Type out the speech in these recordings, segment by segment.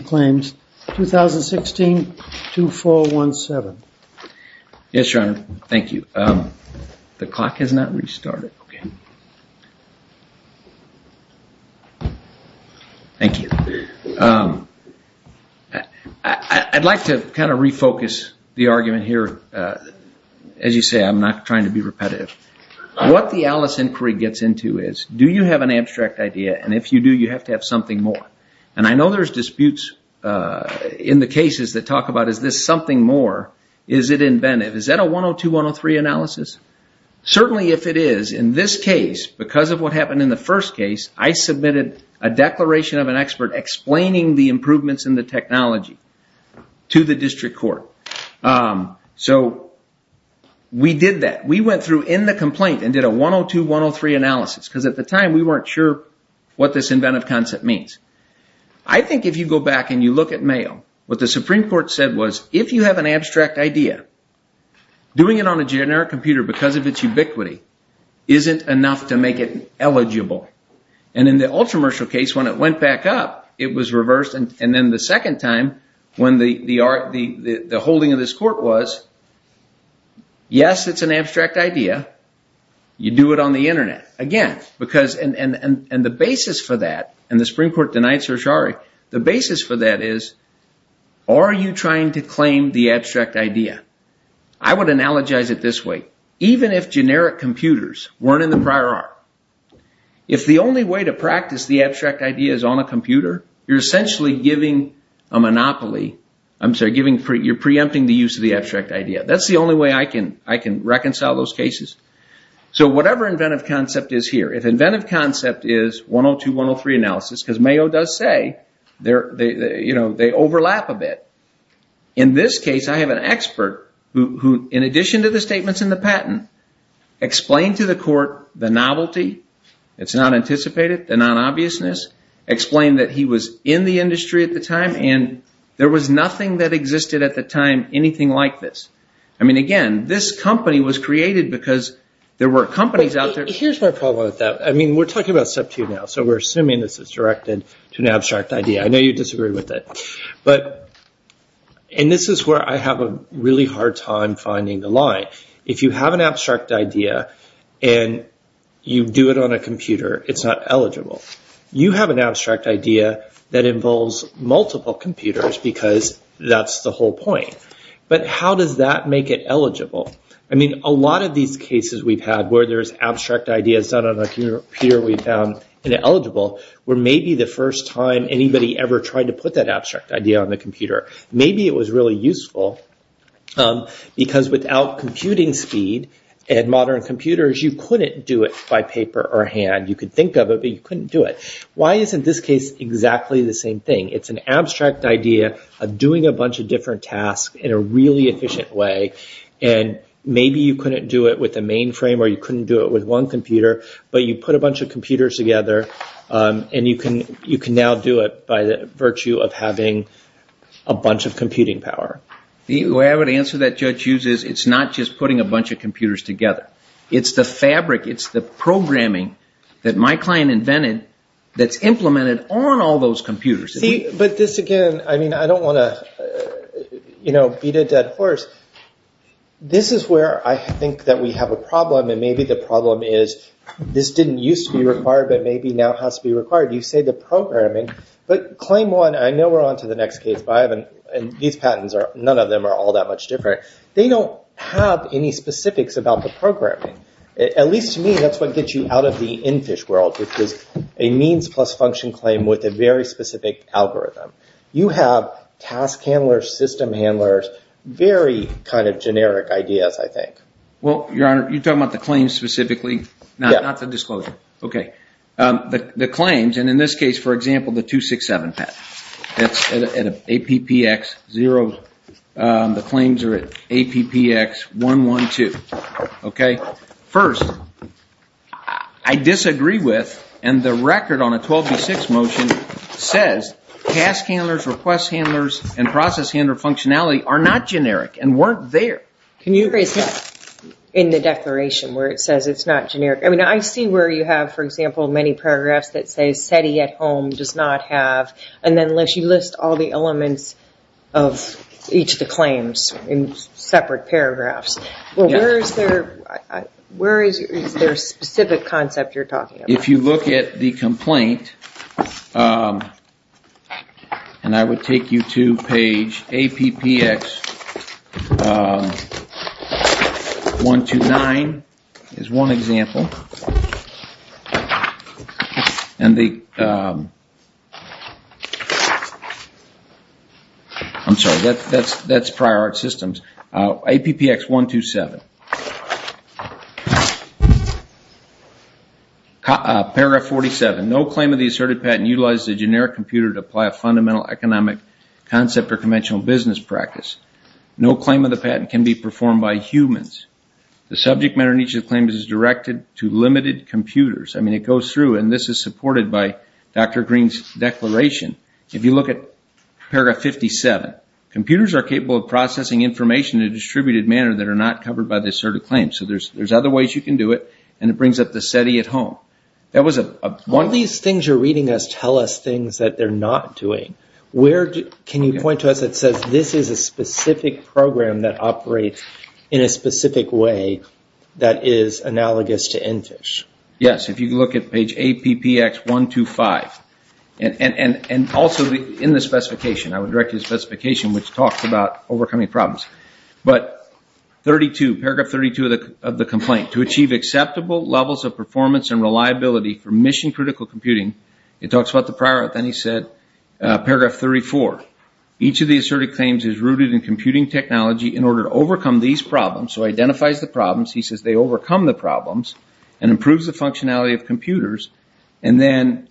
2016 2417. Yes, your honor. Thank you. The clock has not restarted. Thank you. I'd like to kind of refocus the argument here. As you say, I'm not trying to be repetitive. What the Alice inquiry gets into is, do you have an abstract idea? And if you do, you have to have something more. And I know there's disputes in the cases that talk about is this something more? Is it inventive? Is that a 102-103 analysis? Certainly if it is, in this case, because of what happened in the first case, I submitted a declaration of an expert explaining the improvements in the technology to the district court. So we did that. We went through in the complaint and did a 102-103 analysis. Because at the time, we weren't sure what this inventive concept means. I think if you go back and you look at mail, what the Supreme Court said was, if you have an abstract idea, doing it on a generic computer because of its ubiquity isn't enough to make it eligible. And in the Ultramershal case, when it went back up, it was reversed. And then the second time, when the holding of this court was, yes, it's an abstract idea. You do it on the Internet. Again, because, and the basis for that, and the Supreme Court denied certiorari, the basis for that is, are you trying to claim the abstract idea? I would analogize it this way. Even if generic computers weren't in the prior art, if the only way to practice the abstract idea is on a computer, you're essentially giving a monopoly, I'm sorry, you're preempting the use of the abstract idea. That's the only way I can reconcile those cases. So whatever inventive concept is here, if inventive concept is 102, 103 analysis, because Mayo does say, they overlap a bit. In this case, I have an expert who, in addition to the statements in the patent, explained to the court the novelty. It's not anticipated, the non-obviousness. Explained that he was in the industry at the time, and there was nothing that existed at the time, anything like this. I mean, again, this company was created because there were companies out there. Here's my problem with that. I mean, we're talking about sub 2 now, so we're assuming this is directed to an abstract idea. I know you disagree with it. But, and this is where I have a really hard time finding the line. If you have an abstract idea, and you do it on a computer, it's not eligible. You have an abstract idea that involves multiple computers, because that's the whole point. But how does that make it eligible? I mean, a lot of these cases we've had, where there's abstract ideas done on a computer we found ineligible, were maybe the first time anybody ever tried to put that abstract idea on the computer. Maybe it was really useful, because without computing speed and modern computers, you couldn't do it by paper or hand. You could think of it, but you couldn't do it. Why isn't this case exactly the same thing? It's an abstract idea of doing a bunch of different tasks in a really efficient way, and maybe you couldn't do it with a mainframe or you couldn't do it with one computer, but you put a bunch of computers together, and you can now do it by the virtue of having a bunch of computing power. The way I would answer that, Judge Hughes, is it's not just putting a bunch of computers together. It's the fabric, it's the programming that my client invented that's implemented on all those computers. See, but this again, I mean, I don't want to beat a dead horse. This is where I think that we have a problem, and maybe the problem is this didn't used to be required, but maybe now has to be required. You say the programming, but claim one, I know we're on to the next case, but I haven't, and these patents are, none of them are all that much different. They don't have any specifics about the programming. At least to me, that's what gets you out of the in fish world, which is a means plus function claim with a very specific algorithm. You have task handlers, system handlers, very kind of generic ideas, I think. Well, Your Honor, you're talking about the claims specifically, not the disclosure. Okay. The claims, and in this case, for example, the 267 patent. That's at an APPX 0, the claims are at APPX 112. Okay. First, I disagree with, and the record on a 12B6 motion says task handlers, request handlers, and process handler functionality are not generic and weren't there. Can you rephrase that in the declaration where it says it's not generic? I mean, I see where you have, for example, many paragraphs that say SETI at home does not have, and then unless you list all the elements of each of the claims in separate paragraphs. Well, where is there a specific concept you're talking about? If you look at the complaint, and I would take you to page APPX 129 is one example, paragraph 47, no claim of the asserted patent utilizes a generic computer to apply a fundamental economic concept or conventional business practice. No claim of the patent can be performed by humans. The subject matter in each of the claims is directed to limited computers. I mean, it goes through, and this is supported by Dr. Green's declaration. If you look at paragraph 57, computers are capable of processing information in a distributed manner that are not covered by this sort of claim. So there's other ways you can do it, and it brings up the SETI at home. That was a one- All these things you're reading us tell us things that they're not doing. Can you point to us that says this is a specific program that operates in a specific way that is analogous to NFISH? Yes. If you look at page APPX 125, and also in the specification, I would direct you to the specification which talks about overcoming problems, but paragraph 32 of the complaint, to achieve acceptable levels of performance and reliability for mission-critical computing, it talks about the prior, then he said, paragraph 34. Each of the asserted claims is rooted in computing technology in order to overcome these problems, so identifies the problems, he says they overcome the problems, and improves the functionality of computers, and then-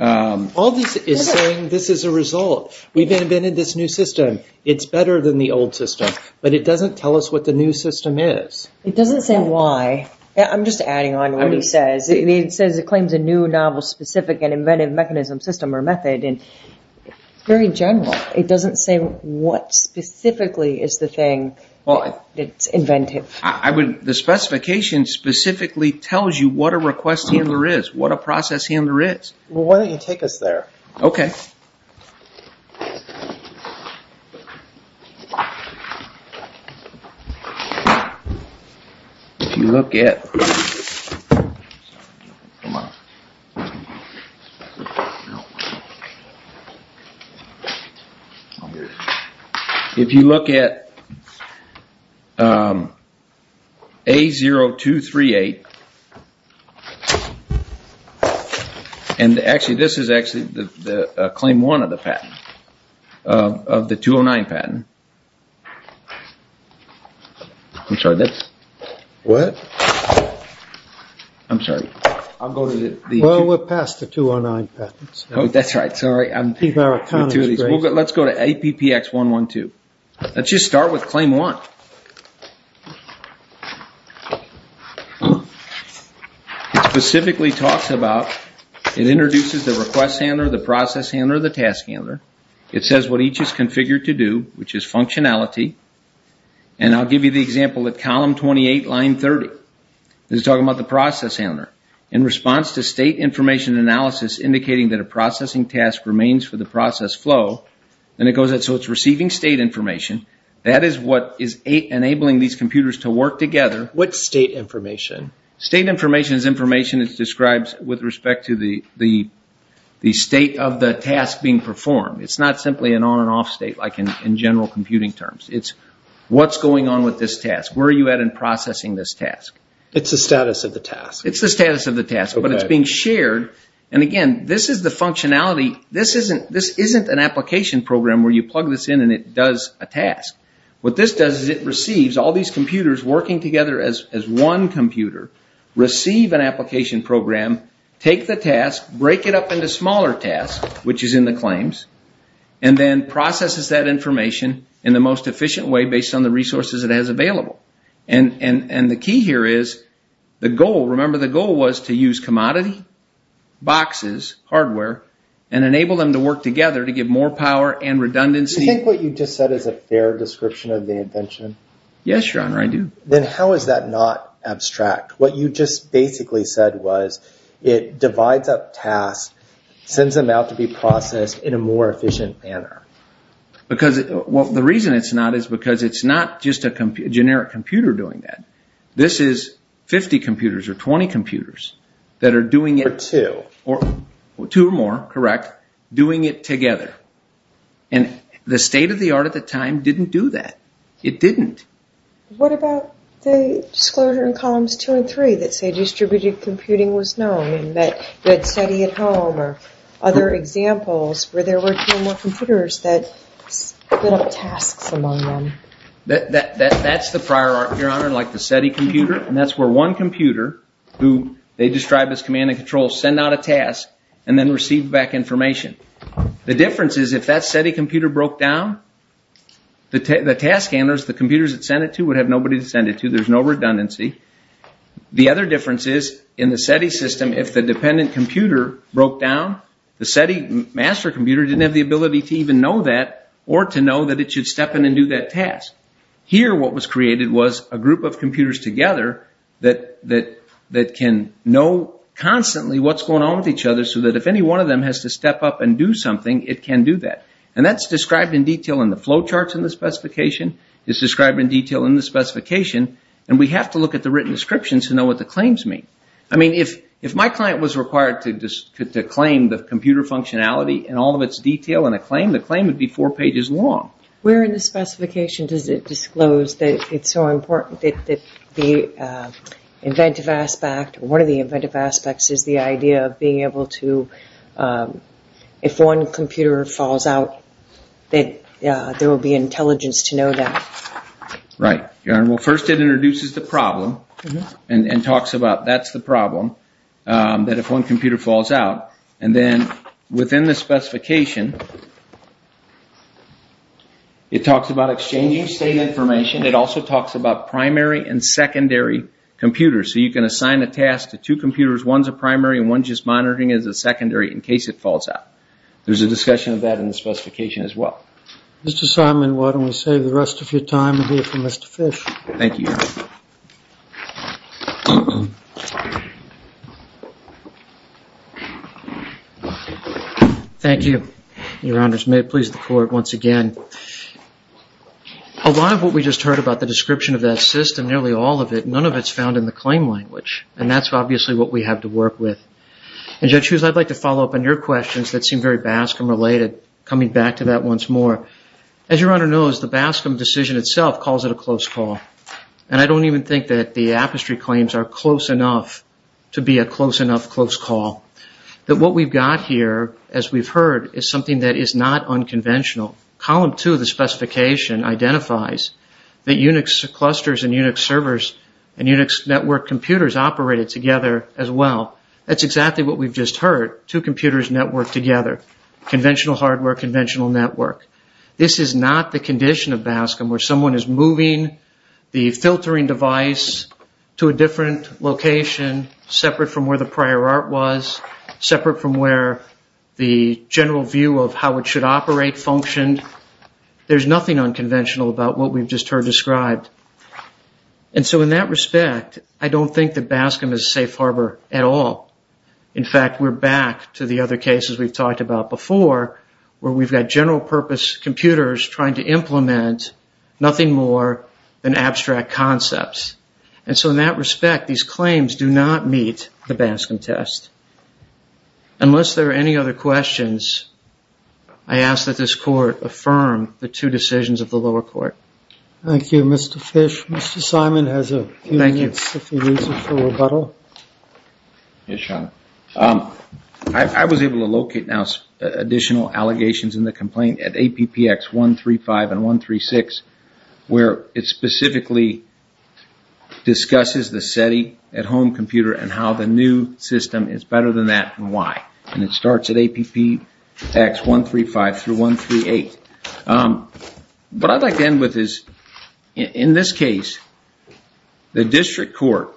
All this is saying this is a result. We've invented this new system. It's better than the old system, but it doesn't tell us what the new system is. It doesn't say why. I'm just adding on to what he says. He says it claims a new novel specific and inventive mechanism, system, or method, and it's very general. It doesn't say what specifically is the thing that's inventive. The specification specifically tells you what a request handler is, what a process handler is. Why don't you take us there? Okay. If you look at- If you look at A0238, and this is actually claim one of the patent, of the 209 patent. I'm sorry, this? What? I'm sorry. I'll go to the- Well, we're past the 209 patents. Oh, that's right. Sorry. These are autonomous- Let's go to APPX112. Let's just start with claim one. It specifically talks about, it introduces the request handler, the process handler, the task handler. It says what each is configured to do, which is functionality, and I'll give you the example of column 28, line 30. This is talking about the process handler. In response to state information analysis indicating that a processing task remains for the process flow, and it goes out, so it's receiving state information. That is what is enabling these computers to work together. What's state information? State information is information that's described with respect to the state of the task being performed. It's not simply an on and off state like in general computing terms. It's what's going on with this task. Where are you at in processing this task? It's the status of the task. It's the status of the task, but it's being shared. Again, this is the functionality. This isn't an application program where you plug this in and it does a task. What this does is it receives all these computers working together as one computer, receive an application program, take the task, break it up into smaller tasks, which is in the claims, and then processes that information in the most efficient way based on the resources it has available. The key here is the goal. Remember, the goal was to use commodity boxes, hardware, and enable them to work together to give more power and redundancy. Do you think what you just said is a fair description of the invention? Yes, your honor, I do. Then how is that not abstract? What you just basically said was it divides up tasks, sends them out to be processed in a more efficient manner. The reason it's not is because it's not just a generic computer doing that. This is 50 computers or 20 computers that are doing it. Or two. Two or more, correct, doing it together. The state of the art at the time didn't do that. It didn't. What about the disclosure in columns two and three that say distributed computing was known and that SETI at home or other examples where there were two or more computers that split up tasks among them? That's the prior art, your honor, like the SETI computer. That's where one computer, who they described as command and control, sent out a task and then received back information. The difference is if that SETI computer broke down, the task handlers, the computers that sent it to, would have nobody to send it to. There's no redundancy. The other difference is in the SETI system, if the dependent computer broke down, the SETI master computer didn't have the ability to even know that or to know that it should step in and do that task. Here what was created was a group of computers together that can know constantly what's going on with each other so that if any one of them has to step up and do something, it can do that. And that's described in detail in the flow charts in the specification. It's described in detail in the specification, and we have to look at the written descriptions to know what the claims mean. I mean, if my client was required to claim the computer functionality and all of its detail in a claim, the claim would be four pages long. Where in the specification does it disclose that it's so important that the inventive aspect, or one of the inventive aspects, is the idea of being able to, if one computer falls out, that there will be intelligence to know that. Right. Well, first it introduces the problem and talks about that's the problem, that if one computer falls out. And then within the specification, it talks about exchanging state information. It also talks about primary and secondary computers. So you can assign a task to two computers. One's a primary and one's just monitoring as a secondary in case it falls out. There's a discussion of that in the specification as well. Mr. Simon, why don't we save the rest of your time and hear from Mr. Fish. Thank you, Your Honor. Thank you, Your Honors. May it please the Court once again. A lot of what we just heard about the description of that system, nearly all of it, none of it's found in the claim language. And that's obviously what we have to work with. And Judge Hughes, I'd like to follow up on your questions that seem very BASCM-related, coming back to that once more. As Your Honor knows, the BASCM decision itself calls it a close call. And I don't even think that the apestry claims are close enough to be a close enough close call. That what we've got here, as we've heard, is something that is not unconventional. Column two of the specification identifies that Unix clusters and Unix servers and Unix network computers operated together as well. That's exactly what we've just heard, two computers networked together. Conventional hardware, conventional network. This is not the condition of BASCM, where someone is moving the filtering device to a different location, separate from where the prior art was, separate from where the general view of how it should operate functioned. There's nothing unconventional about what we've just heard described. And so in that respect, I don't think that BASCM is a safe harbor at all. In fact, we're back to the other cases we've talked about before, where we've got general purpose computers trying to implement nothing more than abstract concepts. And so in that respect, these claims do not meet the BASCM test. Unless there are any other questions, I ask that this Court affirm the two decisions of the lower court. Thank you, Mr. Fish. Mr. Simon has a few minutes if he needs it for rebuttal. Yes, Your Honor. I was able to locate now additional allegations in the complaint at APPX 135 and 136, where it specifically discusses the SETI at-home computer and how the new system is better than that and why. And it starts at APPX 135 through 138. What I'd like to end with is, in this case, the district court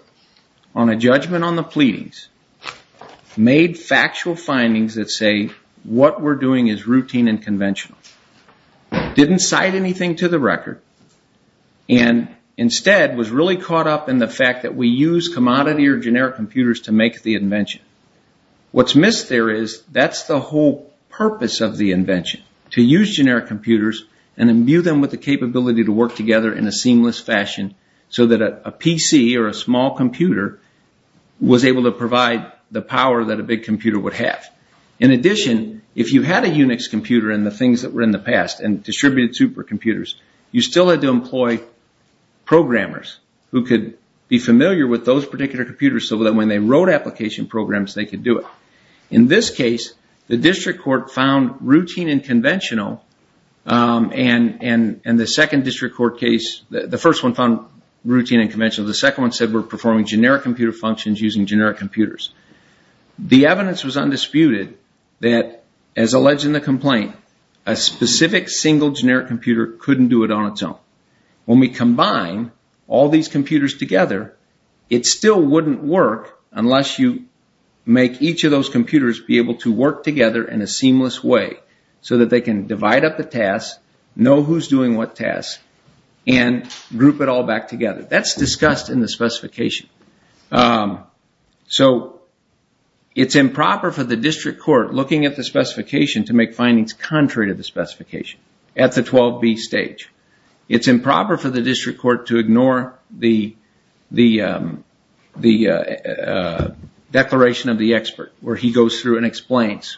on a judgment on the pleadings made factual findings that say what we're doing is routine and conventional. Didn't cite anything to the record and instead was really caught up in the fact that we use commodity or generic computers to make the invention. What's missed there is, that's the whole purpose of the invention, to use generic computers and imbue them with the capability to work together in a seamless fashion so that a PC or a small computer was able to provide the power that a big computer would have. In addition, if you had a Unix computer and the things that were in the past and distributed supercomputers, you still had to employ programmers who could be able to do it. In this case, the district court found routine and conventional and the second district court case, the first one found routine and conventional. The second one said we're performing generic computer functions using generic computers. The evidence was undisputed that, as alleged in the complaint, a specific single generic computer couldn't do it on its own. When we combine all these computers together, it still wouldn't work unless you make each of those computers be able to work together in a seamless way so that they can divide up the tasks, know who's doing what tasks, and group it all back together. That's discussed in the specification. It's improper for the district court looking at the specification to make findings contrary to the specification at the 12B stage. It's improper for the district court to ignore the declaration of the expert where he goes through and explains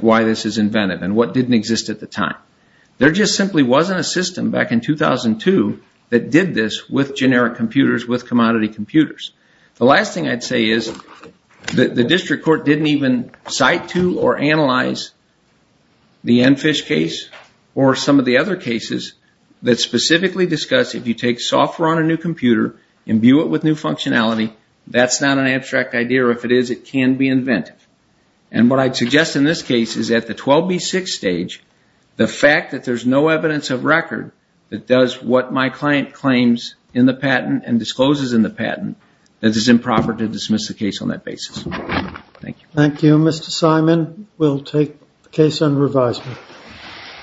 why this is inventive and what didn't exist at the time. There just simply wasn't a system back in 2002 that did this with generic computers, with commodity computers. The last thing I'd say is that the district court didn't even cite to or that specifically discussed if you take software on a new computer, imbue it with new functionality, that's not an abstract idea. If it is, it can be inventive. What I'd suggest in this case is at the 12B6 stage, the fact that there's no evidence of record that does what my client claims in the patent and discloses in the patent, that it's improper to dismiss the case on that basis. Thank you. Thank you, Mr. Simon. We'll take the case on revisement.